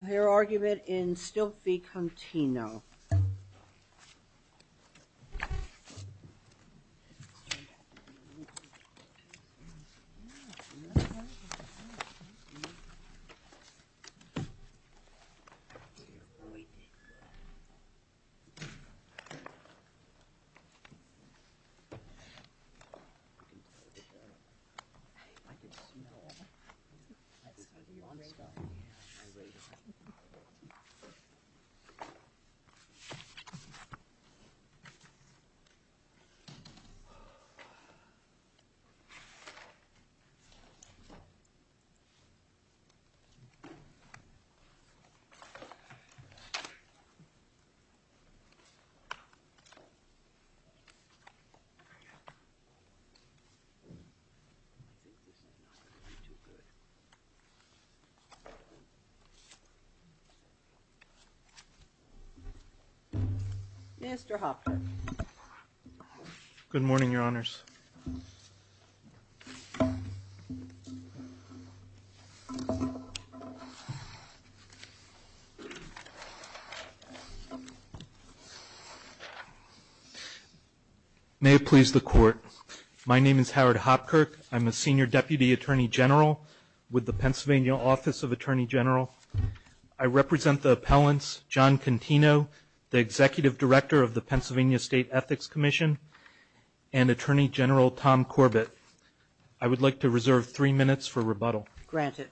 Their argument in Stilp v. Contino. I think this is not going to be too good. Mr. Hopkirk. Good morning, Your Honors. My name is Howard Hopkirk. I'm a Senior Deputy Attorney General with the Pennsylvania Office of Attorney General. I represent the appellants John Contino, the Executive Director of the Pennsylvania State Ethics Commission, and Attorney General Tom Corbett. I would like to reserve three minutes for rebuttal. Granted.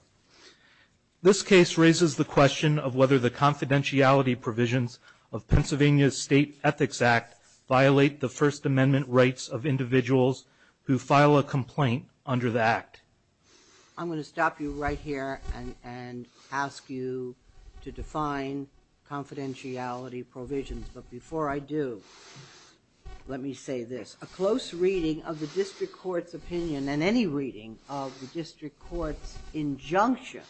This case raises the question of whether the confidentiality provisions of individuals who file a complaint under the Act. I'm going to stop you right here and ask you to define confidentiality provisions. But before I do, let me say this. A close reading of the District Court's opinion, and any reading of the District Court's injunction,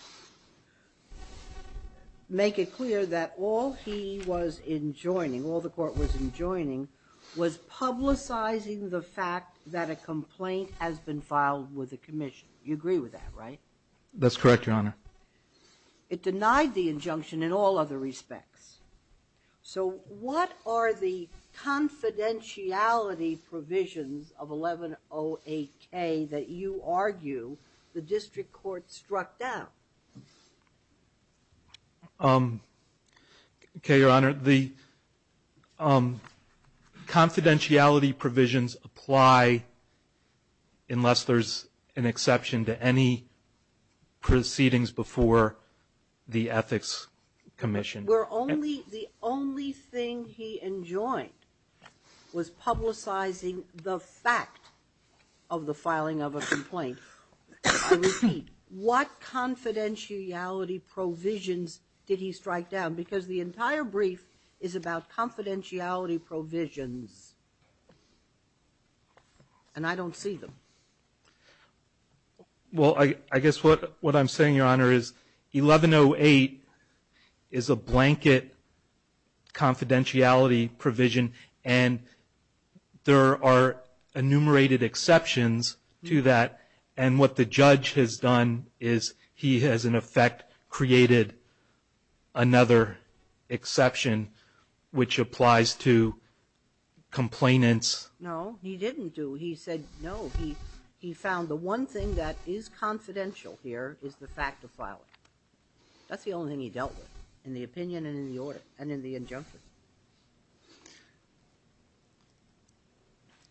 make it clear that all he was enjoining, all the court was enjoining, was publicizing the fact that a complaint has been filed with the commission. You agree with that, right? That's correct, Your Honor. It denied the injunction in all other respects. So what are the confidentiality provisions of 1108K that you argue the District Court struck down? Okay, Your Honor. The confidentiality provisions apply unless there's an exception to any proceedings before the Ethics Commission. Where only the only thing he enjoined was publicizing the fact of the filing of a complaint. I repeat, what confidentiality provisions did he strike down? Because the entire brief is about confidentiality provisions, and I don't see them. Well, I guess what I'm saying, Your Honor, is 1108 is a blanket confidentiality provision, and there are enumerated exceptions to that, and what the judge has done is he has, in effect, created another exception, which applies to complainants. No, he didn't do. He said no. He found the one thing that is confidential here is the fact of filing. That's the only thing he dealt with in the opinion and in the injunction.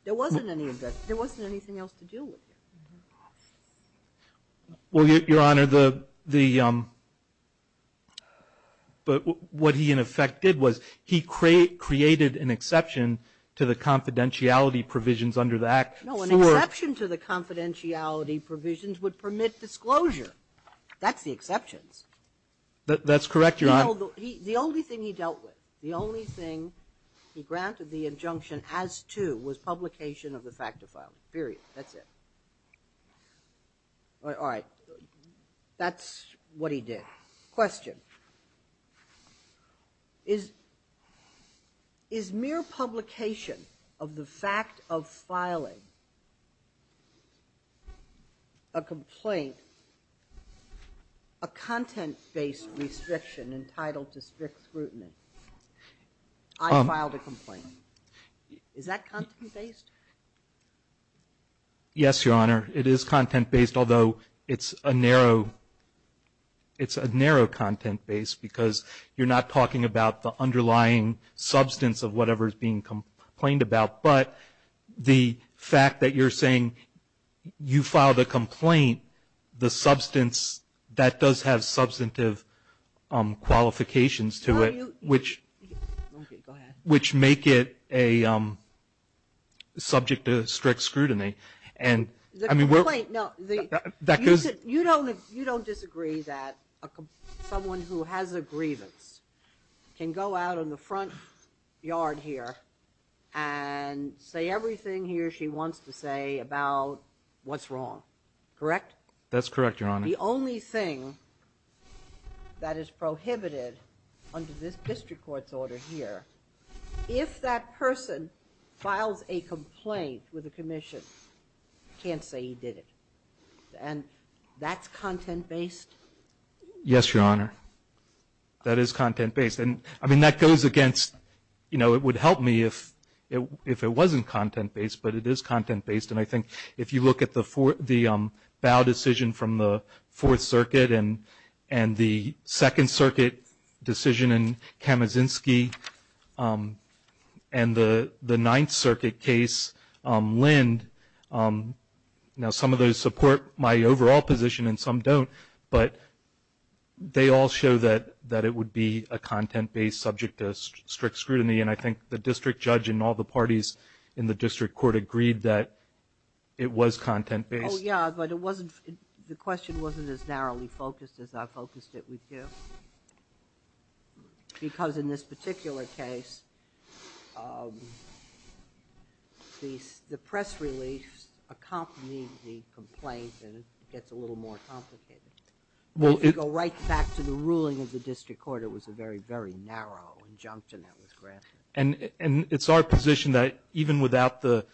There wasn't any of that. There wasn't anything else to deal with here. Well, Your Honor, the what he, in effect, did was he created an exception to the confidentiality provisions under the Act. No, an exception to the confidentiality provisions would permit disclosure. That's correct, Your Honor. The only thing he dealt with, the only thing he granted the injunction as to, was publication of the fact of filing, period. That's it. All right. That's what he did. Question. Is mere publication of the fact of filing a complaint a content-based restriction entitled to strict scrutiny? I filed a complaint. Is that content-based? Yes, Your Honor. It is content-based, although it's a narrow content-based because you're not talking about the underlying substance of whatever is being complained about. But the fact that you're saying you filed a complaint, the substance, that does have substantive qualifications to it, which make it subject to strict scrutiny. You don't disagree that someone who has a grievance can go out in the front yard here and say everything he or she wants to say about what's wrong, correct? That's correct, Your Honor. The only thing that is prohibited under this district court's order here, if that person files a complaint with the commission, can't say he did it. And that's content-based? Yes, Your Honor. That is content-based. And, I mean, that goes against, you know, it would help me if it wasn't content-based, but it is content-based. And I think if you look at the BOW decision from the Fourth Circuit and the Second Circuit decision in Kamazinski and the Ninth Circuit case, Lind, now some of those support my overall position and some don't, but they all show that it would be a content-based subject to strict scrutiny. And I think the district judge and all the parties in the district court agreed that it was content-based. Oh, yeah. But it wasn't the question wasn't as narrowly focused as I focused it with you. Because in this particular case, the press relief accompanies the complaint and it gets a little more complicated. Well, if you go right back to the ruling of the district court, it was a very, very narrow injunction that was granted. And it's our position that even without the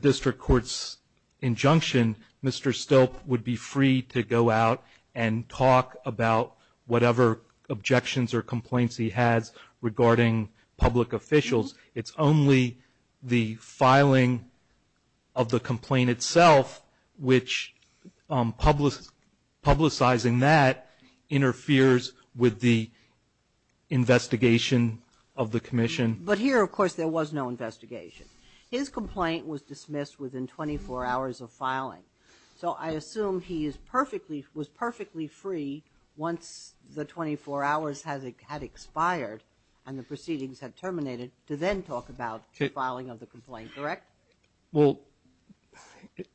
district court's injunction, Mr. Stilp would be free to go out and talk about whatever objections or complaints he has regarding public officials. It's only the filing of the complaint itself, which publicizing that interferes with the investigation of the commission. But here, of course, there was no investigation. His complaint was dismissed within 24 hours of filing. So I assume he was perfectly free once the 24 hours had expired and the proceedings had terminated to then talk about filing of the complaint. Correct? Well,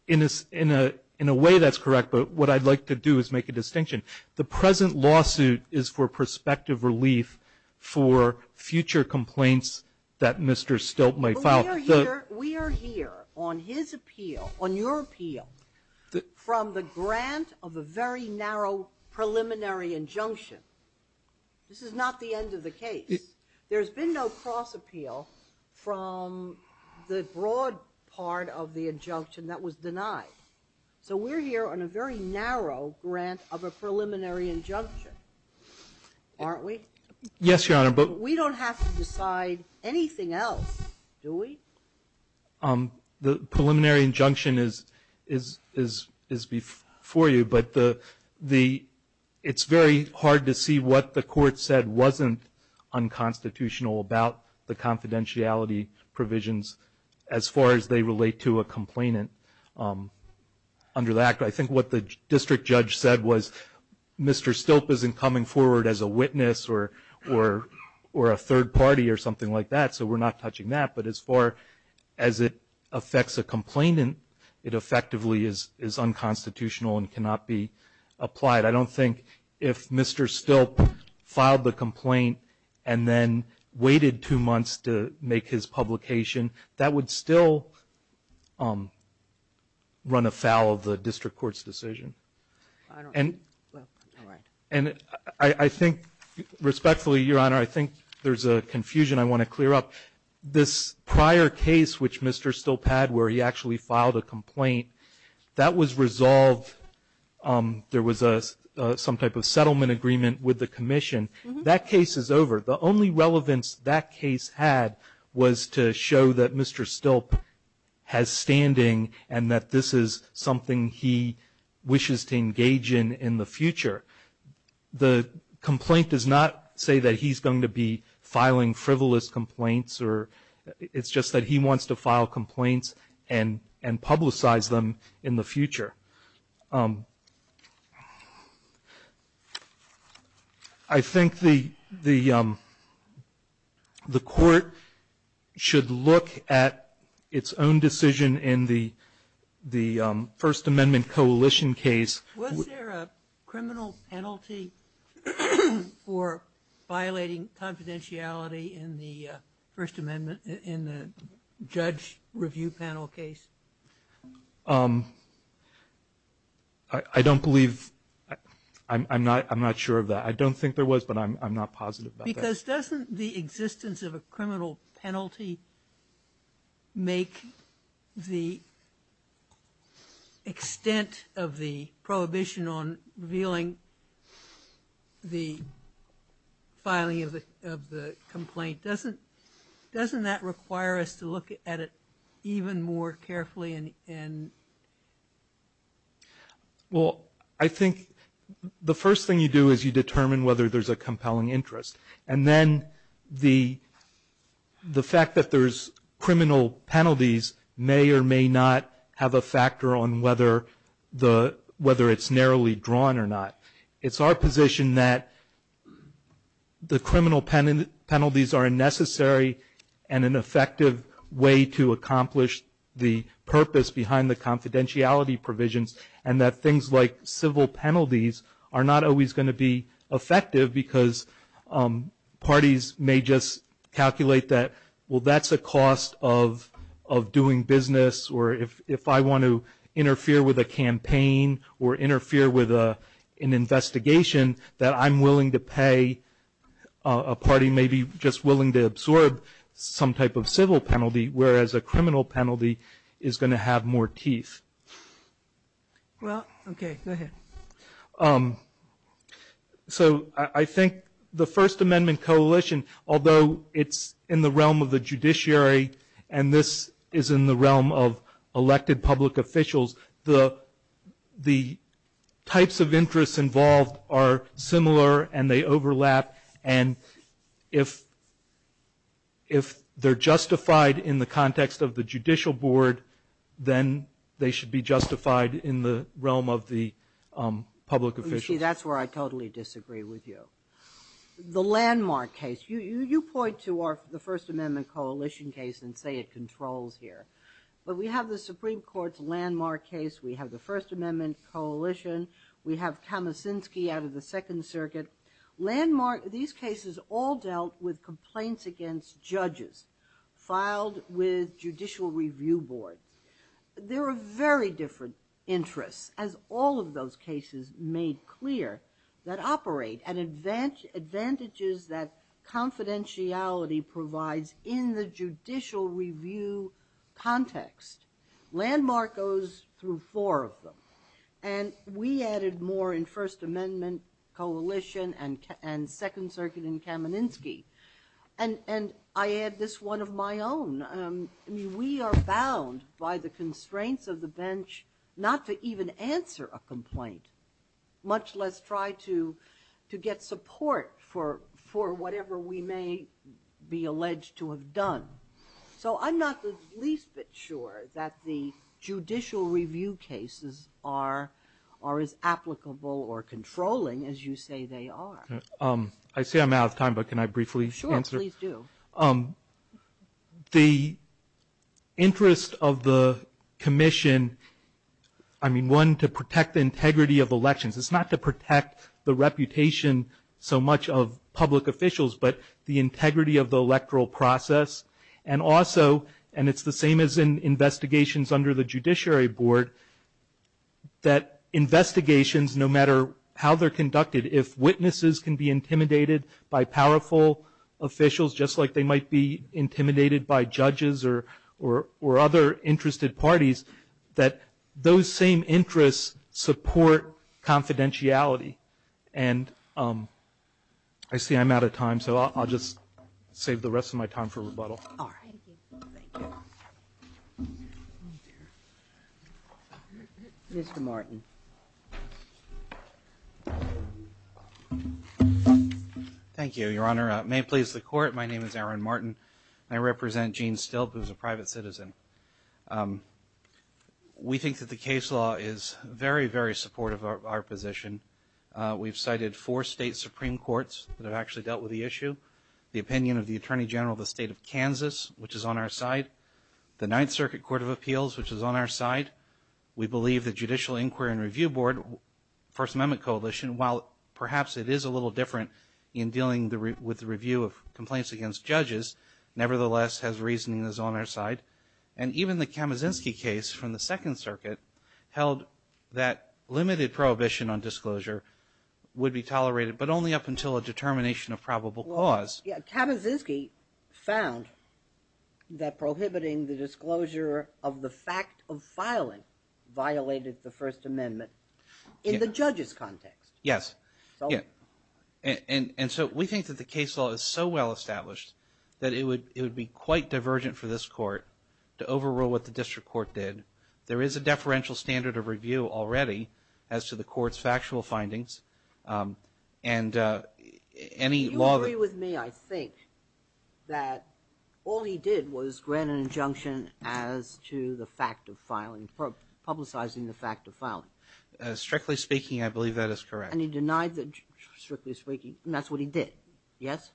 in a way, that's correct. But what I'd like to do is make a distinction. The present lawsuit is for prospective relief for future complaints that Mr. Stilp might file. We are here on his appeal, on your appeal, from the grant of a very narrow preliminary injunction. This is not the end of the case. There's been no cross-appeal from the broad part of the injunction that was denied. So we're here on a very narrow grant of a preliminary injunction, aren't we? Yes, Your Honor. But we don't have to decide anything else, do we? The preliminary injunction is before you, but it's very hard to see what the court said wasn't unconstitutional about the confidentiality provisions as far as they relate to a complainant. Under that, I think what the district judge said was Mr. Stilp isn't coming forward as a witness or a third party or something like that, so we're not touching that. But as far as it affects a complainant, it effectively is unconstitutional and cannot be applied. I don't think if Mr. Stilp filed the complaint and then waited two months to make his publication, that would still run afoul of the district court's decision. And I think respectfully, Your Honor, I think there's a confusion I want to clear up. This prior case which Mr. Stilp had where he actually filed a complaint, that was resolved, there was some type of settlement agreement with the commission. That case is over. The only relevance that case had was to show that Mr. Stilp has standing and that this is something he wishes to engage in in the future. The complaint does not say that he's going to be filing frivolous complaints or it's just that he wants to file complaints and publicize them in the future. I think the court should look at its own decision in the First Amendment Coalition case. Was there a criminal penalty for violating confidentiality in the First Amendment, in the judge review panel case? I don't believe, I'm not sure of that. I don't think there was, but I'm not positive about that. Because doesn't the existence of a criminal penalty make the extent of the prohibition on revealing the filing of the complaint, doesn't that require us to look at it even more carefully? Well, I think the first thing you do is you determine whether there's a compelling interest. And then the fact that there's criminal penalties may or may not have a factor on whether it's narrowly drawn or not. It's our position that the criminal penalties are a necessary and an effective way to accomplish the purpose behind the confidentiality provisions and that things like civil penalties are not always going to be effective because parties may just calculate that, well, that's a cost of doing business or if I want to interfere with a campaign or interfere with an investigation that I'm willing to pay, a party may be just willing to absorb some type of civil penalty, whereas a criminal penalty is going to have more teeth. Well, okay, go ahead. So I think the First Amendment Coalition, although it's in the realm of the judiciary and this is in the realm of elected public officials, the types of interests involved are similar and they overlap. And if they're justified in the context of the judicial board, then they should be justified in the realm of the public officials. Let me see, that's where I totally disagree with you. The landmark case, you point to the First Amendment Coalition case and say it controls here. But we have the Supreme Court's landmark case, we have the First Amendment Coalition, we have Kamicinski out of the Second Circuit. These cases all dealt with complaints against judges filed with judicial review boards. There are very different interests, as all of those cases made clear, that operate and advantages that confidentiality provides in the judicial review context. Landmark goes through four of them. First Amendment Coalition and Second Circuit and Kamicinski. And I add this one of my own. We are bound by the constraints of the bench not to even answer a complaint, much less try to get support for whatever we may be alleged to have done. So I'm not the least bit sure that the judicial review cases are as applicable or controlling as you say they are. I see I'm out of time, but can I briefly answer? Sure, please do. The interest of the commission, I mean, one, to protect the integrity of elections. It's not to protect the reputation so much of public officials, but the integrity of the electoral process. And also, and it's the same as in investigations under the Judiciary Board, that investigations, no matter how they're conducted, if witnesses can be intimidated by powerful officials, just like they might be intimidated by judges or other interested parties, that those same interests support confidentiality. And I see I'm out of time, so I'll just save the rest of my time for rebuttal. All right. Thank you. Mr. Martin. Thank you, Your Honor. May it please the Court, my name is Aaron Martin. I represent Gene Stilp, who is a private citizen. We think that the case law is very, very supportive of our position. We've cited four state Supreme Courts that have actually dealt with the issue. The opinion of the Attorney General of the State of Kansas, which is on our side. The Ninth Circuit Court of Appeals, which is on our side. We believe the Judicial Inquiry and Review Board, First Amendment Coalition, while perhaps it is a little different in dealing with the review of complaints against judges, nevertheless has reasoning that is on our side. And even the Kamazinsky case from the Second Circuit held that limited prohibition on disclosure would be tolerated, but only up until a determination of probable cause. Kamazinsky found that prohibiting the disclosure of the fact of filing violated the First Amendment in the judge's context. Yes. And so we think that the case law is so well established that it would be quite divergent for this Court to overrule what the District Court did. There is a deferential standard of review already as to the Court's factual findings. And any law... You agree with me, I think, that all he did was grant an injunction as to the fact of filing, publicizing the fact of filing. Strictly speaking, I believe that is correct. And he denied that, strictly speaking, and that is what he did. Yes?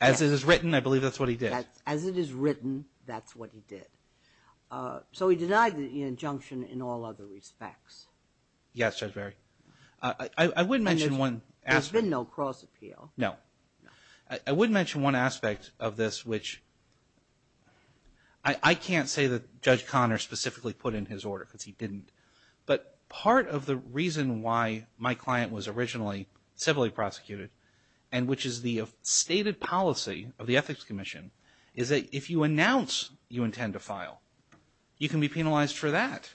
As it is written, I believe that is what he did. As it is written, that is what he did. So he denied the injunction in all other respects. Yes, Judge Barry. I would mention one aspect... There has been no cross-appeal. No. I would mention one aspect of this which... I can't say that Judge Conner specifically put in his order because he didn't. But part of the reason why my client was originally civilly prosecuted, and which is the stated policy of the Ethics Commission, is that if you announce you intend to file, you can be penalized for that.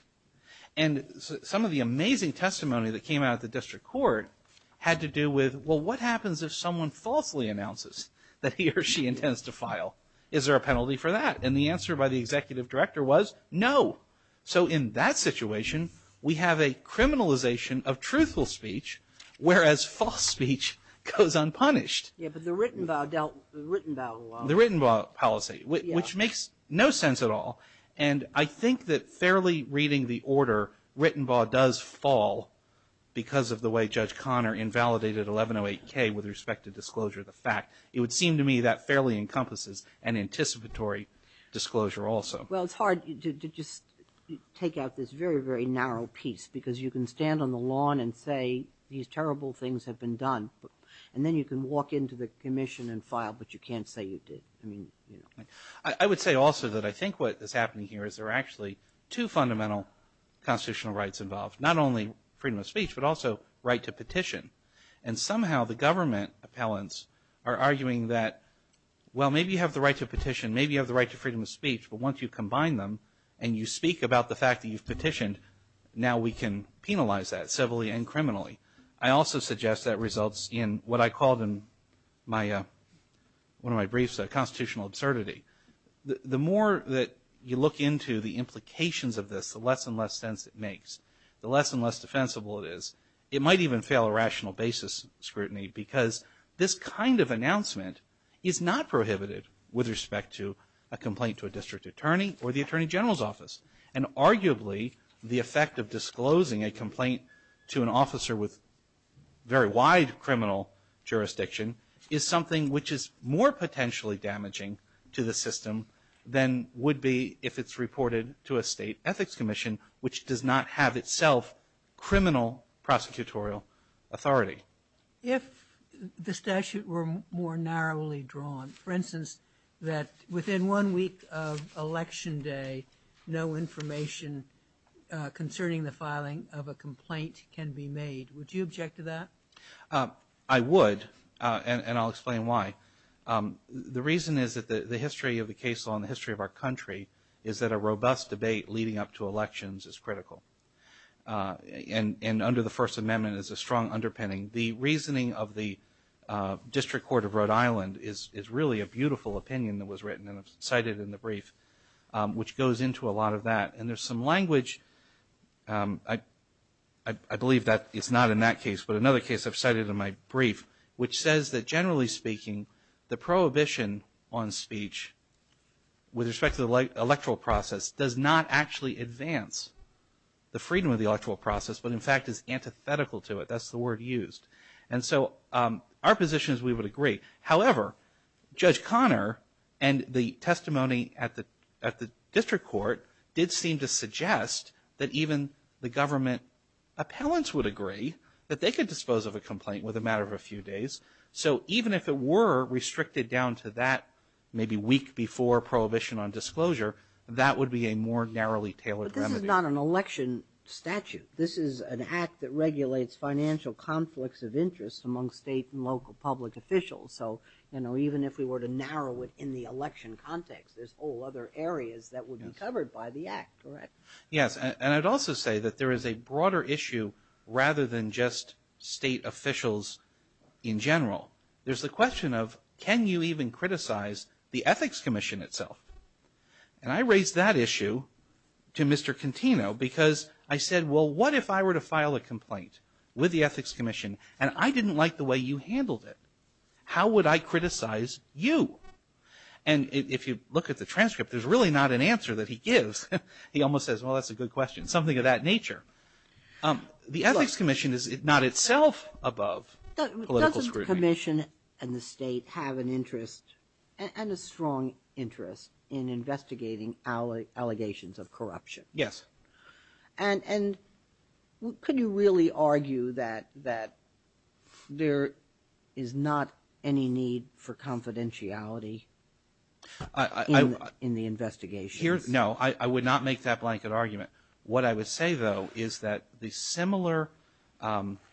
And some of the amazing testimony that came out of the District Court had to do with, well, what happens if someone falsely announces that he or she intends to file? Is there a penalty for that? And the answer by the Executive Director was no. So in that situation, we have a criminalization of truthful speech, whereas false speech goes unpunished. Yes, but the Rittenbaugh dealt with the Rittenbaugh law. The Rittenbaugh policy, which makes no sense at all. And I think that fairly reading the order, Rittenbaugh does fall because of the way Judge Conner invalidated 1108K with respect to disclosure of the fact. It would seem to me that fairly encompasses an anticipatory disclosure also. Well, it's hard to just take out this very, very narrow piece because you can stand on the lawn and say, these terrible things have been done, and then you can walk into the commission and file, but you can't say you did. I would say also that I think what is happening here is there are actually two fundamental constitutional rights involved, not only freedom of speech, but also right to petition. And somehow the government appellants are arguing that, maybe you have the right to freedom of speech, but once you combine them and you speak about the fact that you've petitioned, now we can penalize that civilly and criminally. I also suggest that results in what I called in one of my briefs a constitutional absurdity. The more that you look into the implications of this, the less and less sense it makes, the less and less defensible it is. And arguably the effect of disclosing a complaint to an officer with very wide criminal jurisdiction is something which is more potentially damaging to the system than would be if it's reported to a state ethics commission, which does not have itself criminal prosecutorial authority. If the statute were more narrowly drawn, for instance, that within one week of election day, no information concerning the filing of a complaint can be made, would you object to that? I would, and I'll explain why. The reason is that the history of the case law and the history of our country is that a robust debate leading up to elections is critical. And under the First Amendment is a strong underpinning. The reasoning of the District Court of Rhode Island is really a beautiful opinion that was written and I've cited in the brief, which goes into a lot of that. And there's some language, I believe it's not in that case, but another case I've cited in my brief, which says that generally speaking the prohibition on speech with respect to the electoral process does not actually advance the freedom of the electoral process, but in fact is antithetical to it. That's the word used. And so our position is we would agree. However, Judge Connor and the testimony at the District Court did seem to suggest that even the government appellants would agree that they could dispose of a complaint with a matter of a few days. So even if it were restricted down to that maybe week before prohibition on disclosure, that would be a more narrowly tailored remedy. But this is not an election statute. This is an act that regulates financial conflicts of interest among state and local public officials. So even if we were to narrow it in the election context, there's whole other areas that would be covered by the act, correct? Yes. And I'd also say that there is a broader issue rather than just state officials in general. There's the question of can you even criticize the Ethics Commission itself? And I raised that issue to Mr. Contino because I said, well, what if I were to file a complaint with the Ethics Commission and I didn't like the way you handled it? How would I criticize you? And if you look at the transcript, there's really not an answer that he gives. He almost says, well, that's a good question, something of that nature. The Ethics Commission is not itself above political scrutiny. The Commission and the state have an interest and a strong interest in investigating allegations of corruption. Yes. And could you really argue that there is not any need for confidentiality in the investigations? No. I would not make that blanket argument. What I would say, though, is that the similar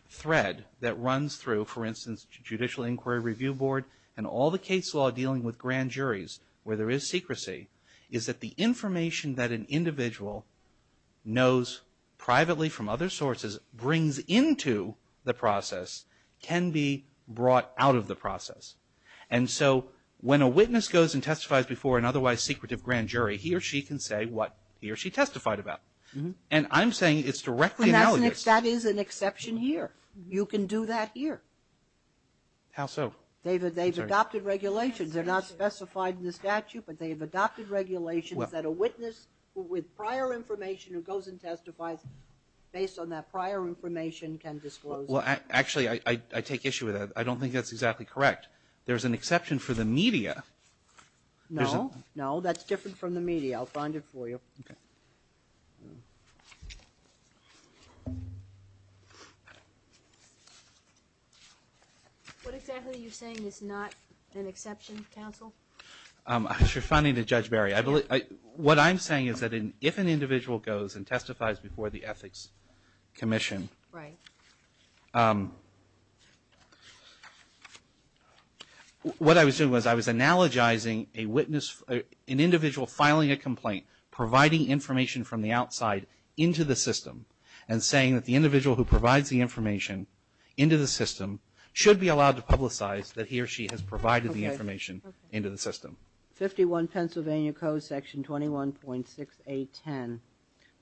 thread that runs through, for instance, Judicial Inquiry Review Board and all the case law dealing with grand juries where there is secrecy is that the information that an individual knows privately from other sources brings into the process can be brought out of the process. And so when a witness goes and testifies before an otherwise secretive grand jury, he or she can say what he or she testified about. And I'm saying it's directly analogous. That is an exception here. You can do that here. How so? David, they've adopted regulations. They're not specified in the statute, but they've adopted regulations that a witness with prior information who goes and testifies based on that prior information can disclose. Well, actually, I take issue with that. I don't think that's exactly correct. There's an exception for the media. No. No, that's different from the media. I'll find it for you. Okay. What exactly are you saying is not an exception, counsel? You're finding that, Judge Barry, what I'm saying is that if an individual goes and testifies before the Ethics Commission, what I was doing was I was analogizing an individual filing a complaint, providing information from the outside into the system, and saying that the individual who provides the information into the system should be allowed to publicize that he or she has provided the information into the system. 51 Pennsylvania Code, Section 21.6810.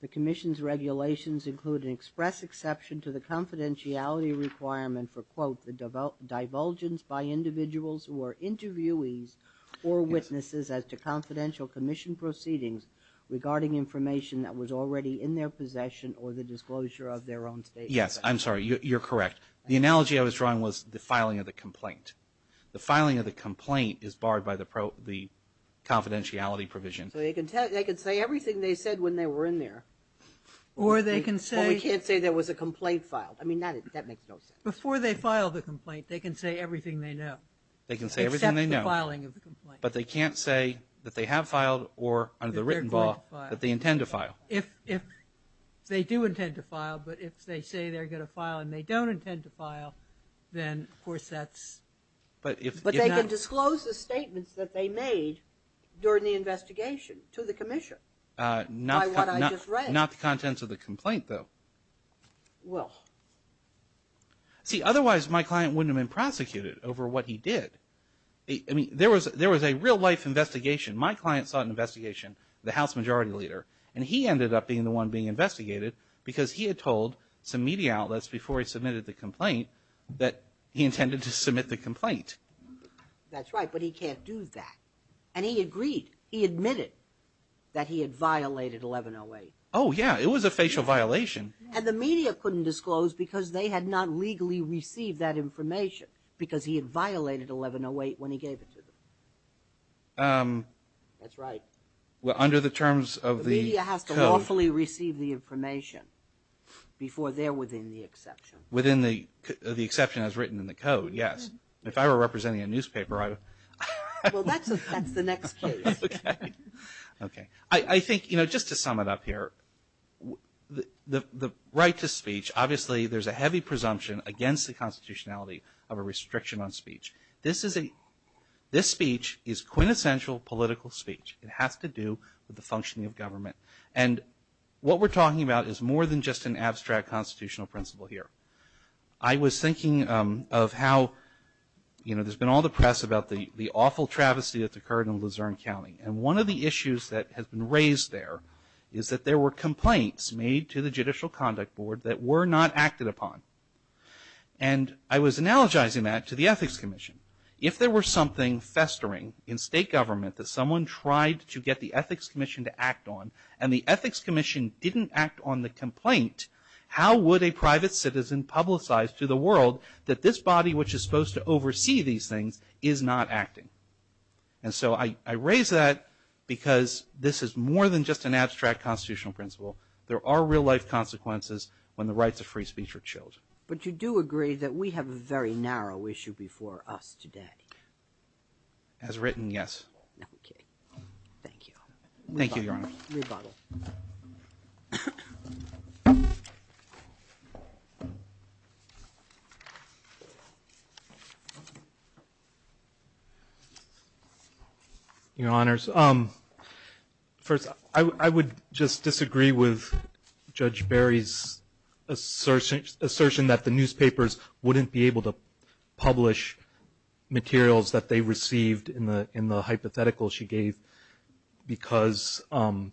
The Commission's regulations include an express exception to the confidentiality requirement for, quote, the divulgence by individuals who are interviewees or witnesses as to confidential commission proceedings regarding information that was already in their possession or the disclosure of their own statement. Yes, I'm sorry. You're correct. The analogy I was drawing was the filing of the complaint. The filing of the complaint is barred by the confidentiality provision. So they can say everything they said when they were in there. Or they can say – Or we can't say there was a complaint filed. I mean, that makes no sense. Before they file the complaint, they can say everything they know. They can say everything they know. Except the filing of the complaint. But they can't say that they have filed or, under the written law, that they intend to file. If they do intend to file, but if they say they're going to file and they don't intend to file, then, of course, that's – But they can disclose the statements that they made during the investigation to the Commission by what I just read. Not the contents of the complaint, though. Well. See, otherwise my client wouldn't have been prosecuted over what he did. I mean, there was a real-life investigation. My client sought an investigation, the House Majority Leader. And he ended up being the one being investigated because he had told some media outlets before he submitted the complaint that he intended to submit the complaint. That's right, but he can't do that. And he agreed. He admitted that he had violated 1108. Oh, yeah. It was a facial violation. And the media couldn't disclose because they had not legally received that information because he had violated 1108 when he gave it to them. That's right. Well, under the terms of the code. The media has to lawfully receive the information before they're within the exception. Within the exception as written in the code, yes. If I were representing a newspaper, I would – Well, that's the next case. Okay. I think, you know, just to sum it up here, the right to speech, obviously there's a heavy presumption against the constitutionality of a restriction on speech. This speech is quintessential political speech. It has to do with the functioning of government. And what we're talking about is more than just an abstract constitutional principle here. I was thinking of how, you know, there's been all the press about the awful travesty that's occurred in Luzerne County. And one of the issues that has been raised there is that there were complaints made to the Judicial Conduct Board that were not acted upon. And I was analogizing that to the Ethics Commission. If there were something festering in state government that someone tried to get the Ethics Commission to act on and the Ethics Commission didn't act on the complaint, how would a private citizen publicize to the world that this body which is supposed to oversee these things is not acting? And so I raise that because this is more than just an abstract constitutional principle. There are real-life consequences when the rights of free speech are chilled. But you do agree that we have a very narrow issue before us today. As written, yes. Okay. Thank you. Thank you, Your Honor. Rebuttal. Your Honors. First, I would just disagree with Judge Berry's assertion that the newspapers wouldn't be able to publish materials that they received in the hypothetical she gave because that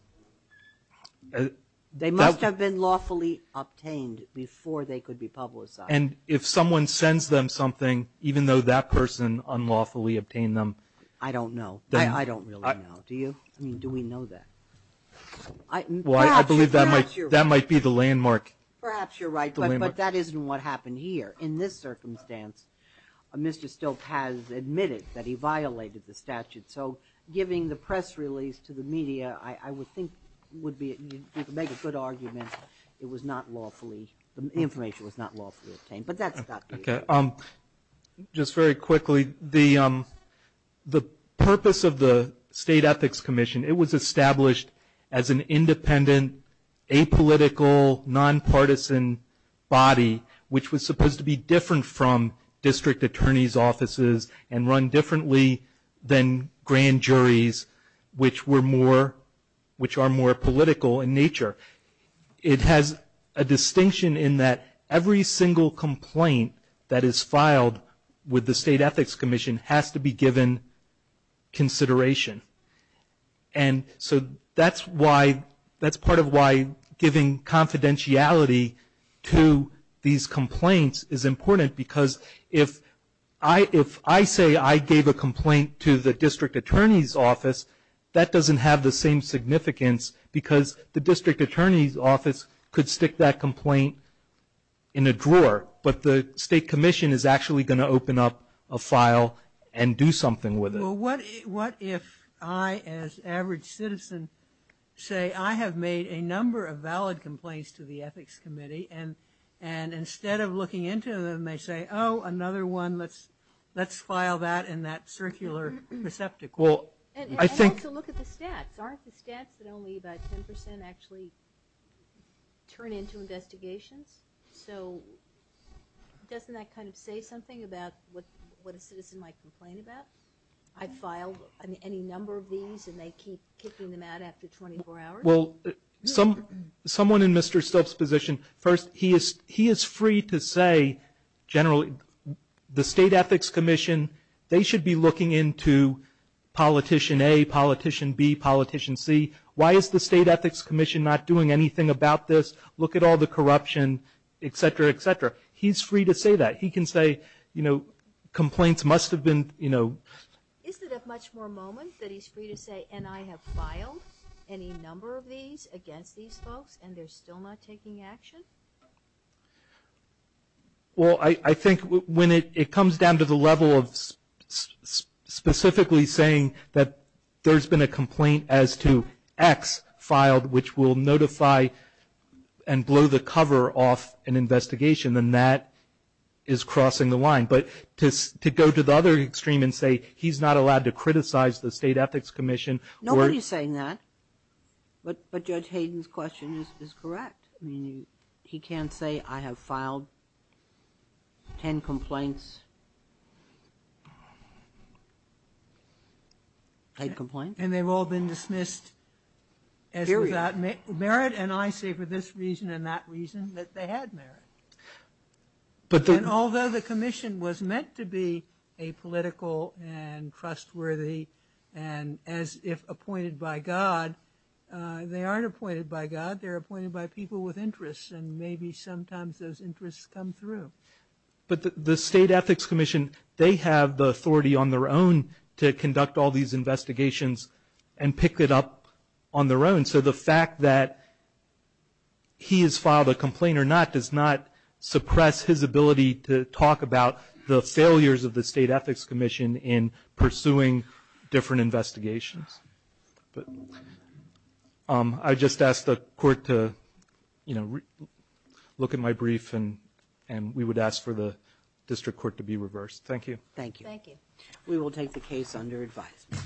was. They must have been lawfully obtained before they could be publicized. And if someone sends them something, even though that person unlawfully obtained them. I don't know. I don't really know. Do you? I mean, do we know that? Well, I believe that might be the landmark. Perhaps you're right. But that isn't what happened here. In this circumstance, Mr. Stilts has admitted that he violated the statute. So giving the press release to the media, I would think would be a good argument. It was not lawfully. The information was not lawfully obtained. Okay. Just very quickly, the purpose of the State Ethics Commission, it was established as an independent, apolitical, nonpartisan body, which was supposed to be different from district attorney's offices and run differently than grand juries, which are more political in nature. It has a distinction in that every single complaint that is filed with the State Ethics Commission has to be given consideration. And so that's part of why giving confidentiality to these complaints is important. Because if I say I gave a complaint to the district attorney's office, that doesn't have the same significance, because the district attorney's office could stick that complaint in a drawer. But the State Commission is actually going to open up a file and do something with it. Well, what if I, as an average citizen, say I have made a number of valid complaints to the Ethics Committee, and instead of looking into them, they say, oh, another one, let's file that in that circular receptacle. And also look at the stats. Aren't the stats that only about 10% actually turn into investigations? So doesn't that kind of say something about what a citizen might complain about? I filed any number of these, and they keep kicking them out after 24 hours? Well, someone in Mr. Stilts' position, first, he is free to say generally the State Ethics Commission, they should be looking into Politician A, Politician B, Politician C. Why is the State Ethics Commission not doing anything about this? Look at all the corruption, et cetera, et cetera. He's free to say that. He can say, you know, complaints must have been, you know. Isn't it a much more moment that he's free to say, and I have filed any number of these against these folks, and they're still not taking action? Well, I think when it comes down to the level of specifically saying that there's been a complaint as to X filed, which will notify and blow the cover off an investigation, then that is crossing the line. But to go to the other extreme and say he's not allowed to criticize the State Ethics Commission. Nobody's saying that. But Judge Hayden's question is correct. I mean, he can say, I have filed 10 complaints. And they've all been dismissed as without merit, and I say for this reason and that reason that they had merit. And although the commission was meant to be apolitical and trustworthy and as if appointed by God, they aren't appointed by God. They're appointed by people with interests, and maybe sometimes those interests come through. But the State Ethics Commission, they have the authority on their own to conduct all these investigations and pick it up on their own. So the fact that he has filed a complaint or not does not suppress his ability to talk about the failures of the State Ethics Commission in pursuing different investigations. But I just asked the court to look at my brief, and we would ask for the district court to be reversed. Thank you. Thank you. Thank you. We will take the case under advisement.